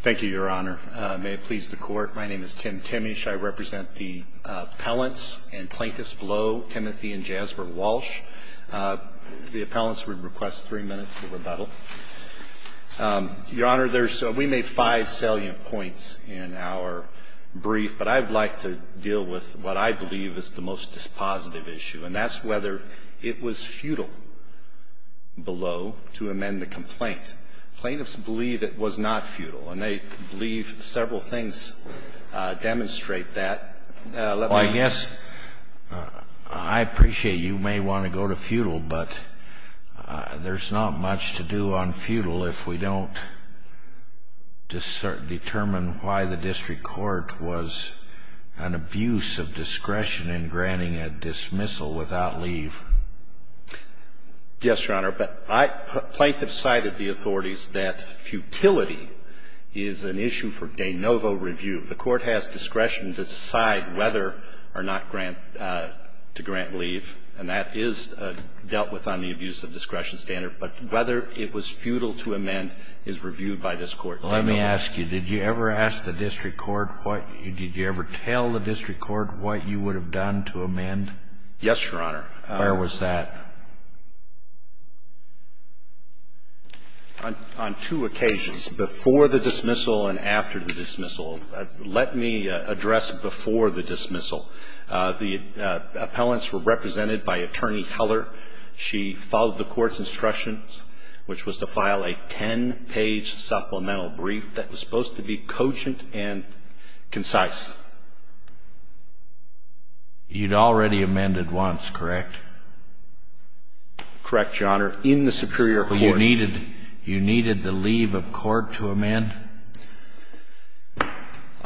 Thank you, Your Honor. May it please the Court, my name is Tim Timmish. I represent the appellants and plaintiffs below, Timothy and Jasper Walsh. The appellants would request three minutes to rebuttal. Your Honor, we made five salient points in our brief, but I'd like to deal with what I believe is the most dispositive issue, and that's whether it was futile below to amend the complaint. Plaintiffs believe it was not futile, and they believe several things demonstrate that. Well, I guess I appreciate you may want to go to futile, but there's not much to do on futile if we don't determine why the district court was an abuse of discretion in granting a dismissal without leave. Yes, Your Honor, but I — plaintiffs cited the authorities that futility is an issue for de novo review. The Court has discretion to decide whether or not grant — to grant leave, and that is dealt with on the abuse of discretion standard, but whether it was futile to amend is reviewed by this Court de novo. Let me ask you, did you ever ask the district court what — did you ever tell the district court what you would have done to amend? Yes, Your Honor. Where was that? On two occasions, before the dismissal and after the dismissal. Let me address before the dismissal. The appellants were represented by Attorney Heller. She followed the Court's instructions, which was to file a 10-page supplemental brief that was supposed to be cogent and concise. You'd already amended once, correct? Correct, Your Honor. In the superior court. But you needed — you needed the leave of court to amend?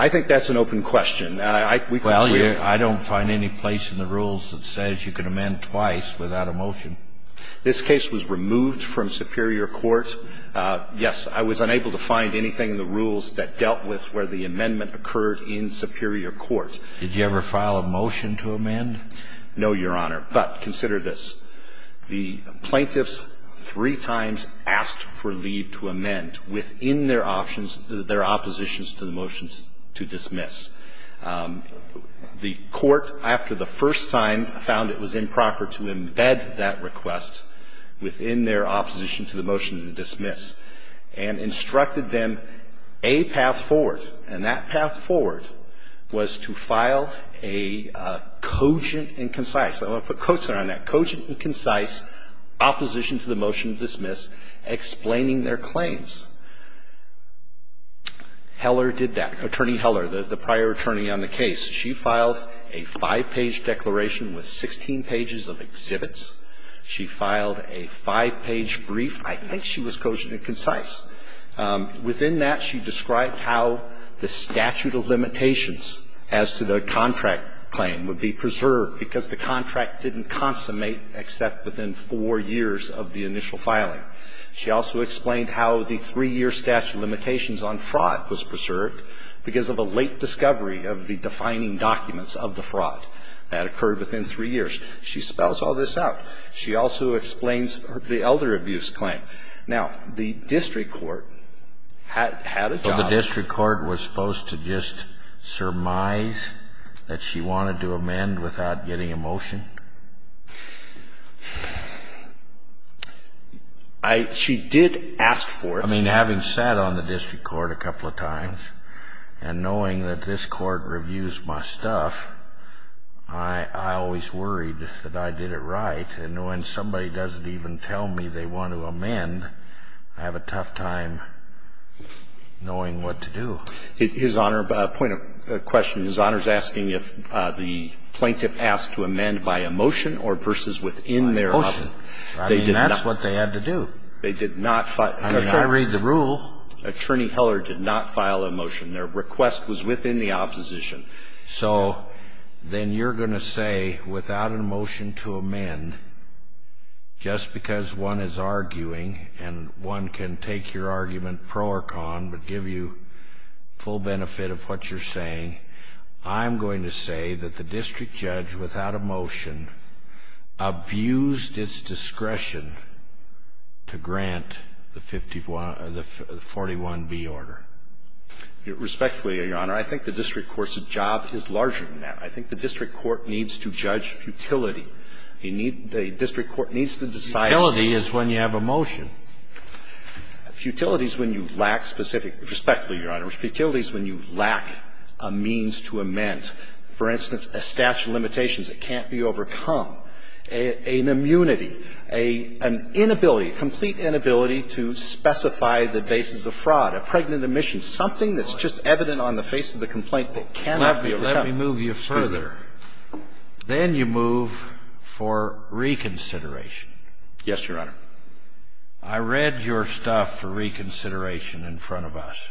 I think that's an open question. I — we can clear it. Well, I don't find any place in the rules that says you can amend twice without a motion. This case was removed from superior court. Yes, I was unable to find anything in the rules that dealt with where the amendment occurred in superior court. Did you ever file a motion to amend? No, Your Honor. But consider this. The plaintiffs three times asked for leave to amend within their options — their oppositions to the motions to dismiss. The Court, after the first time, found it was improper to embed that request within their opposition to the motion to dismiss and instructed them a path forward. And that path forward was to file a cogent and concise — I'm going to put quotes there on that — cogent and concise opposition to the motion to dismiss explaining their claims. Heller did that. Attorney Heller, the prior attorney on the case, she filed a five-page brief. I think she was cogent and concise. Within that, she described how the statute of limitations as to the contract claim would be preserved because the contract didn't consummate except within four years of the initial filing. She also explained how the three-year statute of limitations on fraud was preserved because of a late discovery of the defining documents of the fraud that occurred within three years. She spells all this out. She also explains the elder abuse claim. Now, the district court had a job — So the district court was supposed to just surmise that she wanted to amend without getting a motion? I — she did ask for it. I mean, having sat on the district court a couple of times and knowing that this is the case, I was worried that I did it right. And when somebody doesn't even tell me they want to amend, I have a tough time knowing what to do. His Honor — point of question. His Honor is asking if the plaintiff asked to amend by a motion or versus within their — Motion. I mean, that's what they had to do. They did not — I'm just trying to read the rule. Attorney Heller did not file a motion. Their request was within the opposition. So then you're going to say, without a motion to amend, just because one is arguing and one can take your argument pro or con but give you full benefit of what you're saying, I'm going to say that the district judge, without a motion, abused its discretion to grant the 51 — the 41B order. Respectfully, Your Honor, I think the district court's job is larger than that. I think the district court needs to judge futility. You need — the district court needs to decide — Futility is when you have a motion. Futility is when you lack specific — respectfully, Your Honor, futility is when you lack a means to amend. For instance, a statute of limitations that can't be overcome, an immunity, an inability, complete inability to specify the basis of fraud, a pregnant omission, something that's just evident on the face of the complaint that cannot be overcome. Let me move you further. Then you move for reconsideration. Yes, Your Honor. I read your stuff for reconsideration in front of us.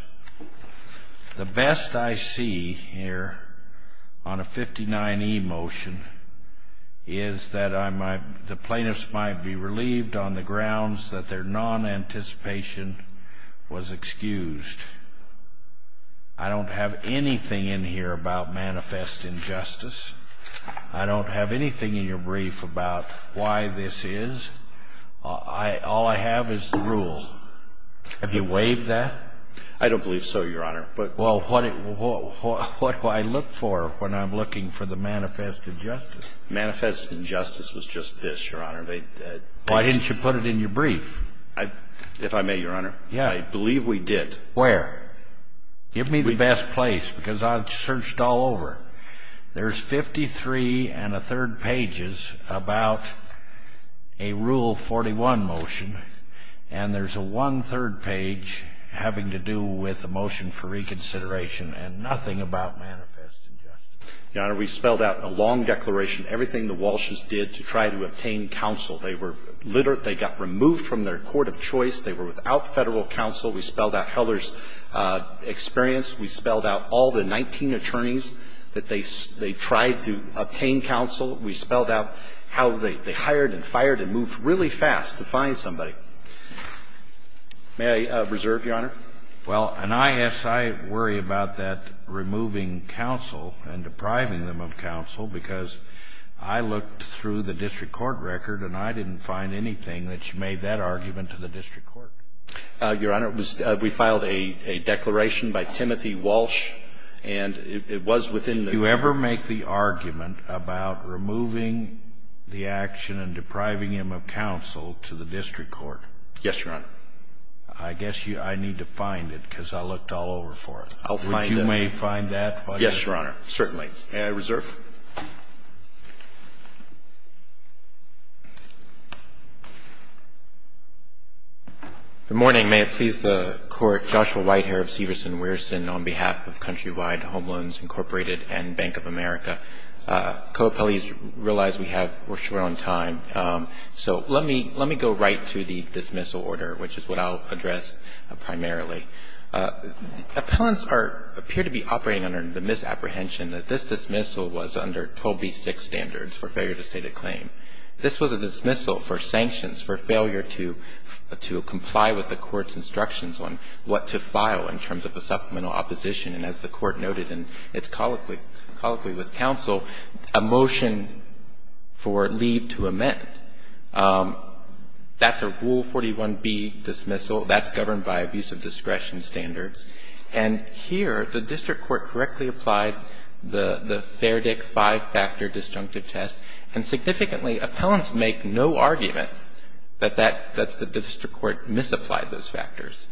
The best I see here on a 59E motion is that I might — the plaintiffs might be relieved on the grounds that their non-anticipation was excused. I don't have anything in here about manifest injustice. I don't have anything in your brief about why this is. All I have is the rule. Have you waived that? I don't believe so, Your Honor. Well, what do I look for when I'm looking for the manifest injustice? Manifest injustice was just this, Your Honor. Why didn't you put it in your brief? If I may, Your Honor, I believe we did. Where? Give me the best place, because I've searched all over. There's 53 and a third pages about a Rule 41 motion. And there's a one-third page having to do with a motion for reconsideration and nothing about manifest injustice. Your Honor, we spelled out in a long declaration everything the Walsh's did to try to obtain counsel. They were — they got removed from their court of choice. They were without Federal counsel. We spelled out Heller's experience. We spelled out all the 19 attorneys that they tried to obtain counsel. We spelled out how they hired and fired and moved really fast to find somebody. May I reserve, Your Honor? Well, and I, yes, I worry about that, removing counsel and depriving them of counsel, because I looked through the district court record and I didn't find anything that made that argument to the district court. Your Honor, it was — we filed a declaration by Timothy Walsh, and it was within the — Do you ever make the argument about removing the action and depriving him of counsel to the district court? Yes, Your Honor. I guess you — I need to find it, because I looked all over for it. I'll find it. Would you find that? Yes, Your Honor, certainly. May I reserve? Good morning. May it please the Court. Joshua White here of Severson Weirson on behalf of Countrywide Home Loans Incorporated and Bank of America. Co-appellees realize we have — we're short on time, so let me go right to the dismissal order, which is what I'll address primarily. Appellants appear to be operating under the misapprehension that this dismissal was under 12b-6 standards for failure to state a claim. This was a dismissal for sanctions, for failure to comply with the Court's instructions on what to file in terms of a supplemental opposition, and as the Court noted in its colloquy with counsel, a motion for leave to amend. That's a Rule 41b dismissal. That's governed by abuse of discretion standards. And here, the district court correctly applied the Fairdick five-factor disjunctive test, and significantly, appellants make no argument that that — that the district court misapplied those factors,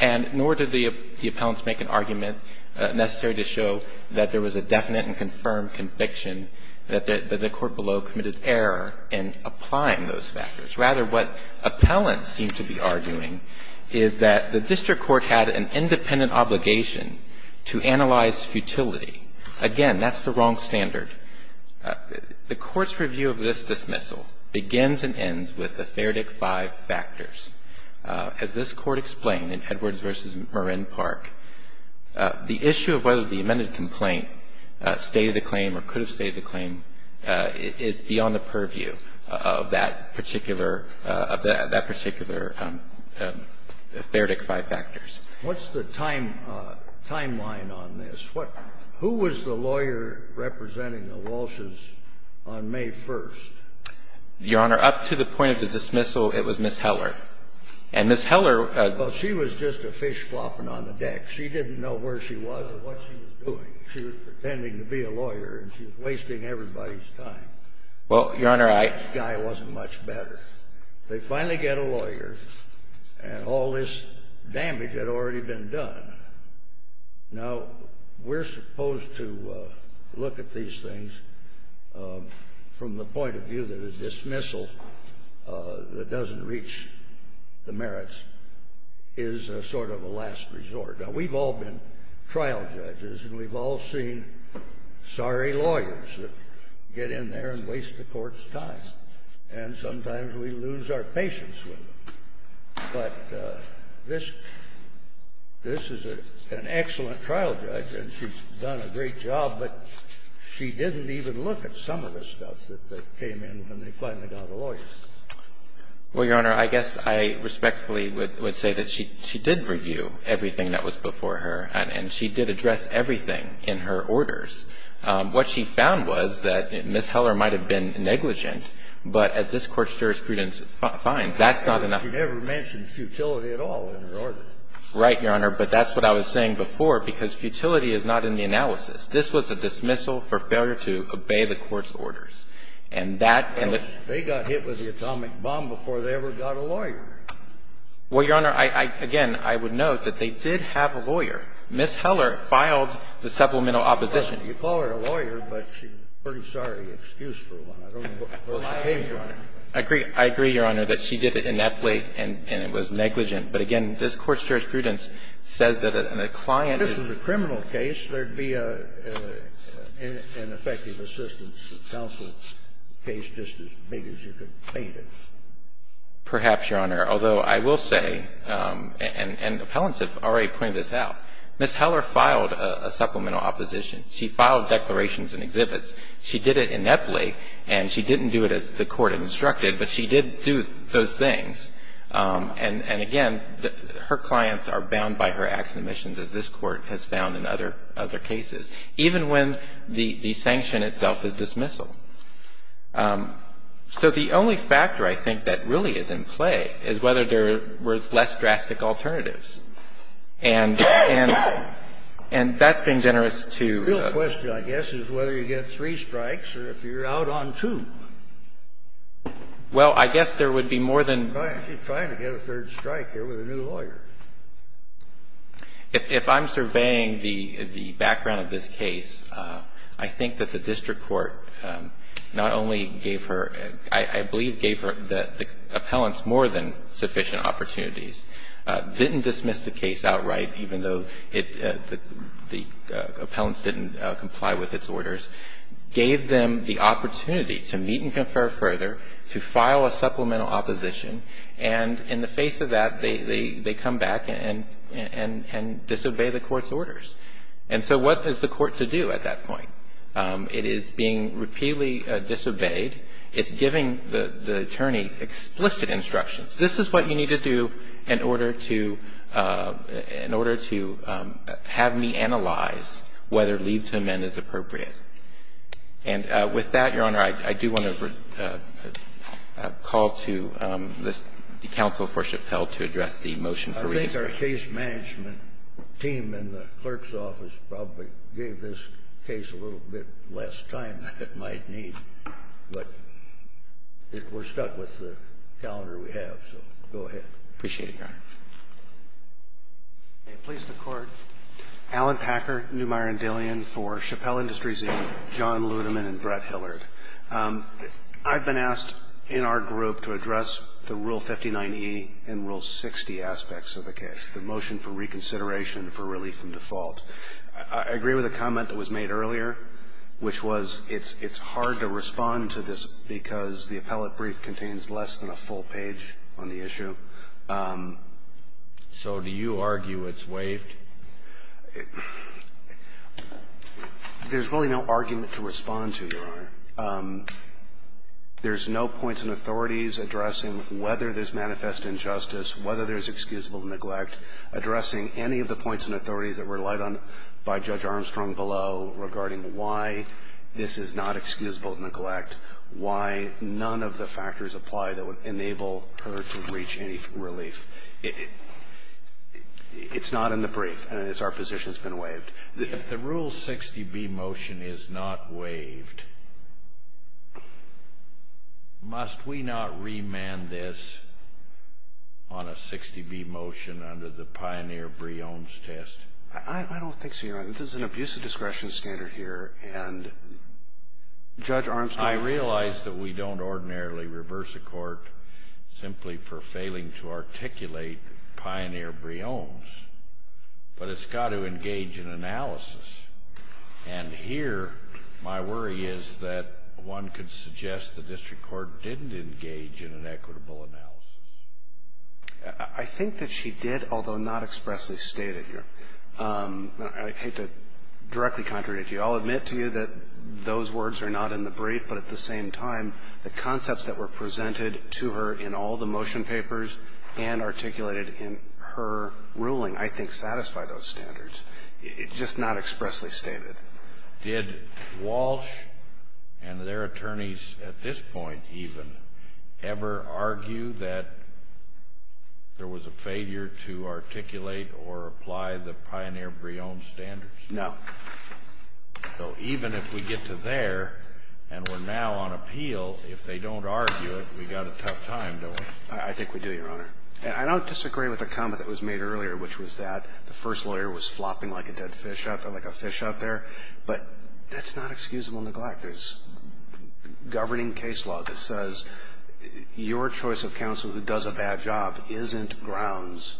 and nor did the appellants make an argument necessary to show that there was a definite and confirmed conviction that the court below committed error in applying those factors. Rather, what appellants seem to be arguing is that the district court had an independent obligation to analyze futility. Again, that's the wrong standard. The Court's review of this dismissal begins and ends with the Fairdick five factors. As this Court explained in Edwards v. Marin Park, the issue of whether the amended complaint stated a claim or could have stated a claim is beyond the purview of that particular — of that particular Fairdick five factors. What's the timeline on this? What — who was the lawyer representing the Walsh's on May 1st? Your Honor, up to the point of the dismissal, it was Ms. Heller. And Ms. Heller — Well, she was just a fish flopping on the deck. She didn't know where she was or what she was doing. She was pretending to be a lawyer, and she was wasting everybody's time. Well, Your Honor, I — This guy wasn't much better. They finally get a lawyer, and all this damage had already been done. Now, we're supposed to look at these things from the point of view that a dismissal that doesn't reach the merits is sort of a last resort. Now, we've all been trial judges, and we've all seen sorry lawyers that get in there and sometimes we lose our patience with them. But this is an excellent trial judge, and she's done a great job, but she didn't even look at some of the stuff that came in when they finally got a lawyer. Well, Your Honor, I guess I respectfully would say that she did review everything that was before her, and she did address everything in her orders. What she found was that Ms. Heller might have been negligent, but as this Court's jurisprudence finds, that's not enough. She never mentioned futility at all in her orders. Right, Your Honor. But that's what I was saying before, because futility is not in the analysis. This was a dismissal for failure to obey the Court's orders. And that — They got hit with the atomic bomb before they ever got a lawyer. Well, Your Honor, again, I would note that they did have a lawyer. Ms. Heller filed the supplemental opposition. You call her a lawyer, but she's a pretty sorry excuse for one. I don't know where she came from. I agree. I agree, Your Honor, that she did it ineptly and it was negligent. But again, this Court's jurisprudence says that a client is — If this was a criminal case, there would be an effective assistance to counsel case just as big as you could paint it. Perhaps, Your Honor. Although I will say, and appellants have already pointed this out, Ms. Heller filed a supplemental opposition. She filed declarations and exhibits. She did it ineptly, and she didn't do it as the Court instructed, but she did do those things. And again, her clients are bound by her acts and omissions, as this Court has found in other cases, even when the sanction itself is dismissal. So the only factor, I think, that really is in play is whether there were less drastic alternatives. And that's been generous to the court. The real question, I guess, is whether you get three strikes or if you're out on two. Well, I guess there would be more than — She's trying to get a third strike here with a new lawyer. If I'm surveying the background of this case, I think that the district court not only gave her — I believe gave the appellants more than sufficient opportunities, didn't dismiss the case outright, even though the appellants didn't comply with its orders, gave them the opportunity to meet and confer further, to file a supplemental opposition, and in the face of that, they come back and disobey the court's orders. And so what is the court to do at that point? It is being repeatedly disobeyed. It's giving the attorney explicit instructions. This is what you need to do in order to have me analyze whether leave to amend is appropriate. And with that, Your Honor, I do want to call to the counsel for Chappell to address the motion for redistricting. I think our case management team in the clerk's office probably gave this case a little bit less time than it might need, but we're stuck with the calendar we have, so go ahead. Appreciate it, Your Honor. Please, the Court. Alan Packer, Neumeier & Dillian for Chappell Industries Inc., John Ludeman and Brett Hillard. I've been asked in our group to address the Rule 59e and Rule 60 aspects of the case, the motion for reconsideration for relief from default. I agree with the comment that was made earlier, which was it's hard to respond to this because the appellate brief contains less than a full page on the issue. So do you argue it's waived? There's really no argument to respond to, Your Honor. There's no points and authorities addressing whether there's manifest injustice, whether there's excusable neglect, addressing any of the points and authorities that were relied on by Judge Armstrong below regarding why this is not excusable neglect, why none of the factors apply that would enable her to reach any relief. It's not in the brief, and it's our position it's been waived. If the Rule 60b motion is not waived, must we not remand this on a 60b motion under the Pioneer-Breones test? I don't think so, Your Honor. This is an abusive discretion standard here, and Judge Armstrong ---- I realize that we don't ordinarily reverse a court simply for failing to articulate Pioneer-Breones, but it's got to engage in analysis. And here my worry is that one could suggest the district court didn't engage in an equitable analysis. I think that she did, although not expressly stated here. I hate to directly contradict you. I'll admit to you that those words are not in the brief, but at the same time, the concepts that were presented to her in all the motion papers and articulated in her ruling, I think, satisfy those standards. It's just not expressly stated. Did Walsh and their attorneys at this point even ever argue that there was a failure to articulate or apply the Pioneer-Breones standards? No. So even if we get to there and we're now on appeal, if they don't argue it, we've got a tough time, don't we? I think we do, Your Honor. And I don't disagree with the comment that was made earlier, which was that the first lawyer was flopping like a dead fish out there, like a fish out there. But that's not excusable neglect. There's governing case law that says your choice of counsel who does a bad job isn't grounds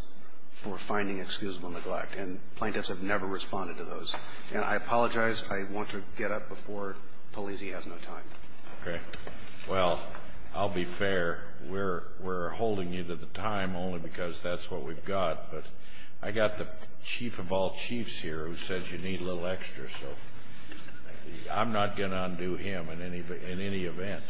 for finding excusable neglect. And plaintiffs have never responded to those. And I apologize. I want to get up before Polizzi has no time. Okay. Well, I'll be fair. We're holding you to the time only because that's what we've got. But I got the chief of all chiefs here who says you need a little extra, so I'm not going to undo him in any event.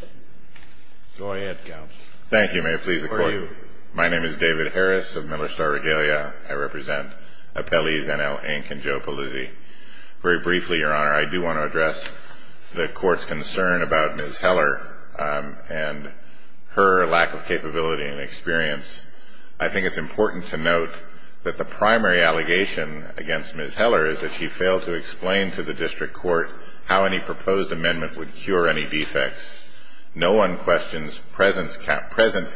Go ahead, counsel. Thank you, may it please the Court. Who are you? My name is David Harris of Middle Star Regalia. I represent appellees N.L. Inke and Joe Polizzi. Very briefly, Your Honor, I do want to address the Court's concern about Ms. Heller and her lack of capability and experience. I think it's important to note that the primary allegation against Ms. Heller is that she failed to explain to the district court how any proposed amendment would cure any defects. No one questions present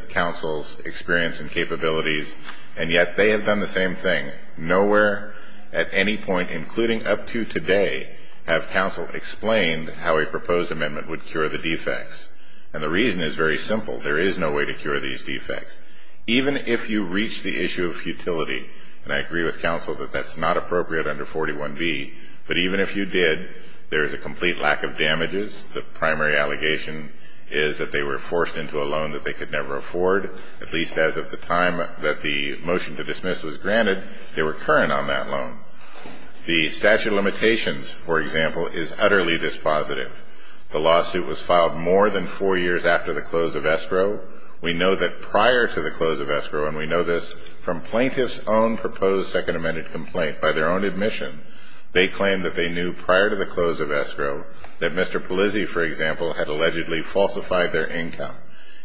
counsel's experience and capabilities. And yet they have done the same thing. Nowhere at any point, including up to today, have counsel explained how a proposed amendment would cure the defects. And the reason is very simple. There is no way to cure these defects. Even if you reach the issue of futility, and I agree with counsel that that's not appropriate under 41B, but even if you did, there is a complete lack of damages. The primary allegation is that they were forced into a loan that they could never afford. At least as of the time that the motion to dismiss was granted, they were current on that loan. The statute of limitations, for example, is utterly dispositive. The lawsuit was filed more than four years after the close of escrow. We know that prior to the close of escrow, and we know this from plaintiff's own proposed second amended complaint by their own admission, they claimed that they knew prior to the had allegedly falsified their income.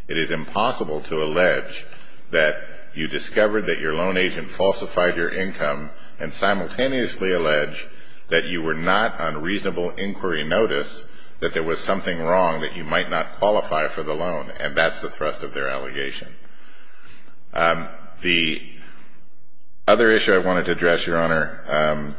It is impossible to allege that you discovered that your loan agent falsified your income and simultaneously allege that you were not on reasonable inquiry notice, that there was something wrong, that you might not qualify for the loan. And that's the thrust of their allegation. The other issue I wanted to address, Your Honor,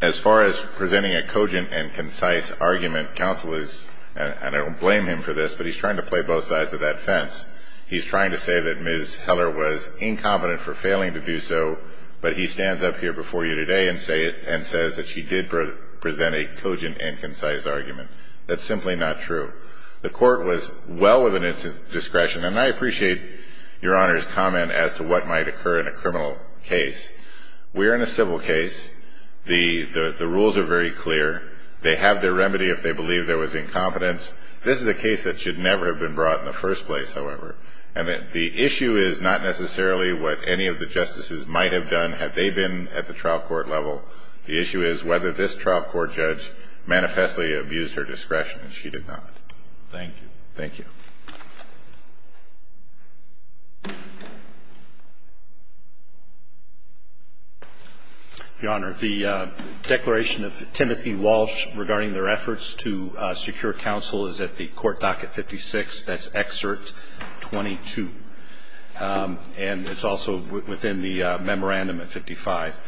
as far as presenting a cogent and concise argument, counsel is, and I don't blame him for this, but he's trying to play both sides of that fence. He's trying to say that Ms. Heller was incompetent for failing to do so, but he stands up here before you today and says that she did present a cogent and concise argument. That's simply not true. The court was well within its discretion, and I appreciate Your Honor's comment as to what might occur in a criminal case. We're in a civil case. The rules are very clear. They have their remedy if they believe there was incompetence. This is a case that should never have been brought in the first place, however. And the issue is not necessarily what any of the justices might have done had they been at the trial court level. The issue is whether this trial court judge manifestly abused her discretion, and she did not. Thank you. Thank you. Roberts. Your Honor, the declaration of Timothy Walsh regarding their efforts to secure counsel is at the court docket 56. That's excerpt 22. And it's also within the memorandum at 55.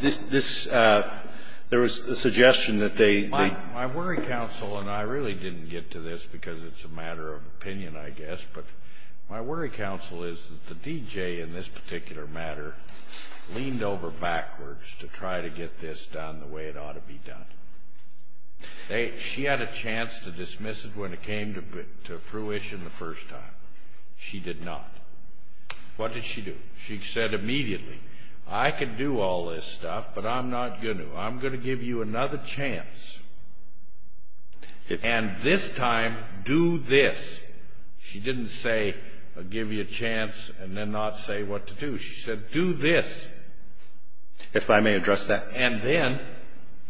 This, this, there was a suggestion that they might. My worry, counsel, and I really didn't get to this because it's a matter of opinion, I guess, but my worry, counsel, is that the D.J. in this particular matter leaned over backwards to try to get this done the way it ought to be done. She had a chance to dismiss it when it came to fruition the first time. She did not. What did she do? She said immediately, I can do all this stuff, but I'm not going to. I'm going to give you another chance. And this time, do this. She didn't say, I'll give you a chance and then not say what to do. She said, do this. If I may address that. And then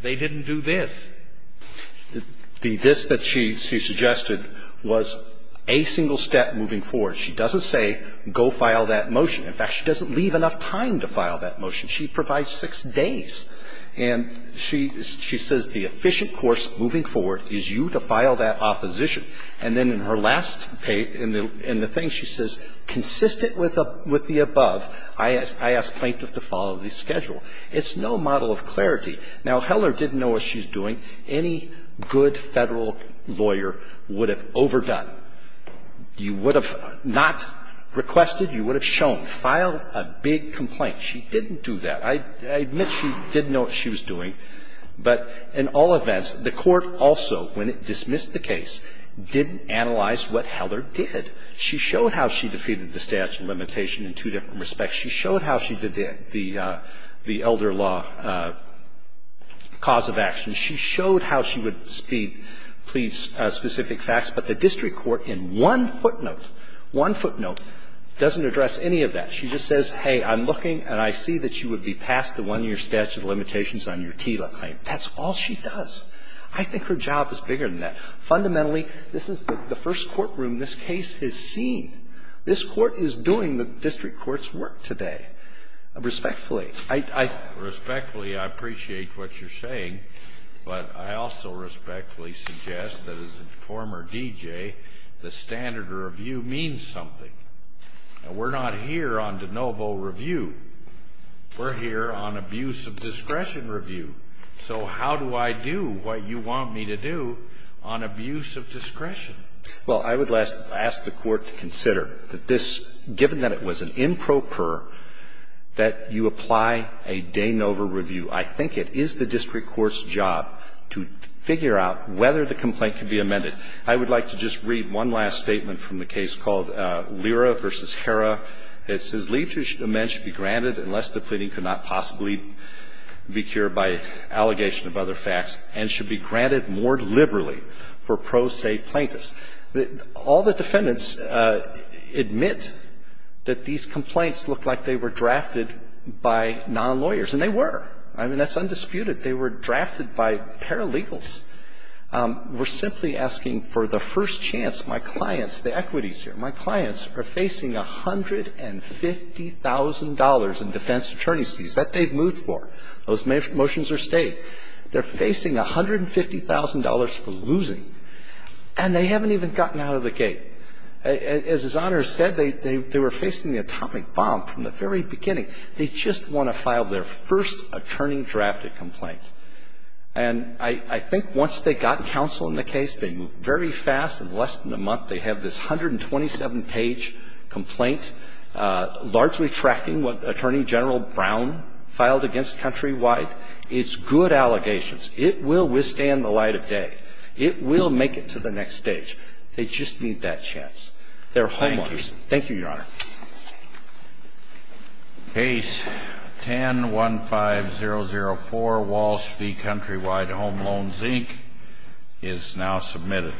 they didn't do this. The this that she suggested was a single step moving forward. She doesn't say, go file that motion. In fact, she doesn't leave enough time to file that motion. She provides six days. And she says, the efficient course moving forward is you to file that opposition. And then in her last page, in the thing, she says, consistent with the above, I ask plaintiff to follow the schedule. It's no model of clarity. Now, Heller didn't know what she's doing. Any good Federal lawyer would have overdone. You would have not requested, you would have shown. File a big complaint. She didn't do that. I admit she didn't know what she was doing. But in all events, the Court also, when it dismissed the case, didn't analyze what Heller did. She showed how she defeated the statute of limitation in two different respects. She showed how she did the elder law cause of action. She showed how she would speed, plead specific facts. But the district court in one footnote, one footnote, doesn't address any of that. She just says, hey, I'm looking and I see that you would be past the one-year statute of limitations on your TILA claim. That's all she does. I think her job is bigger than that. Fundamentally, this is the first courtroom this case has seen. This Court is doing the district court's work today. Respectfully, I think. Scalia. Respectfully, I appreciate what you're saying. But I also respectfully suggest that as a former DJ, the standard review means something. We're not here on de novo review. We're here on abuse of discretion review. So how do I do what you want me to do on abuse of discretion? Well, I would ask the Court to consider that this, given that it was an improper, that you apply a de novo review. I think it is the district court's job to figure out whether the complaint can be amended. I would like to just read one last statement from the case called Lira v. Hera. It says, Leave to amend should be granted unless the pleading could not possibly be cured by allegation of other facts and should be granted more liberally for pro se plaintiffs. All the defendants admit that these complaints look like they were drafted by non-lawyers, and they were. I mean, that's undisputed. They were drafted by paralegals. We're simply asking for the first chance. My clients, the equities here, my clients are facing $150,000 in defense attorney fees that they've moved for. Those motions are state. They're facing $150,000 for losing, and they haven't even gotten out of the gate. As His Honor said, they were facing the atomic bomb from the very beginning. They just want to file their first attorney-drafted complaint. And I think once they got counsel in the case, they moved very fast. In less than a month, they have this 127-page complaint, largely tracking what Attorney General Brown filed against Countrywide. It's good allegations. It will withstand the light of day. It will make it to the next stage. They just need that chance. They're homeowners. Thank you, Your Honor. Case 10-15004, Walsh v. Countrywide Home Loans, Inc., is now submitted.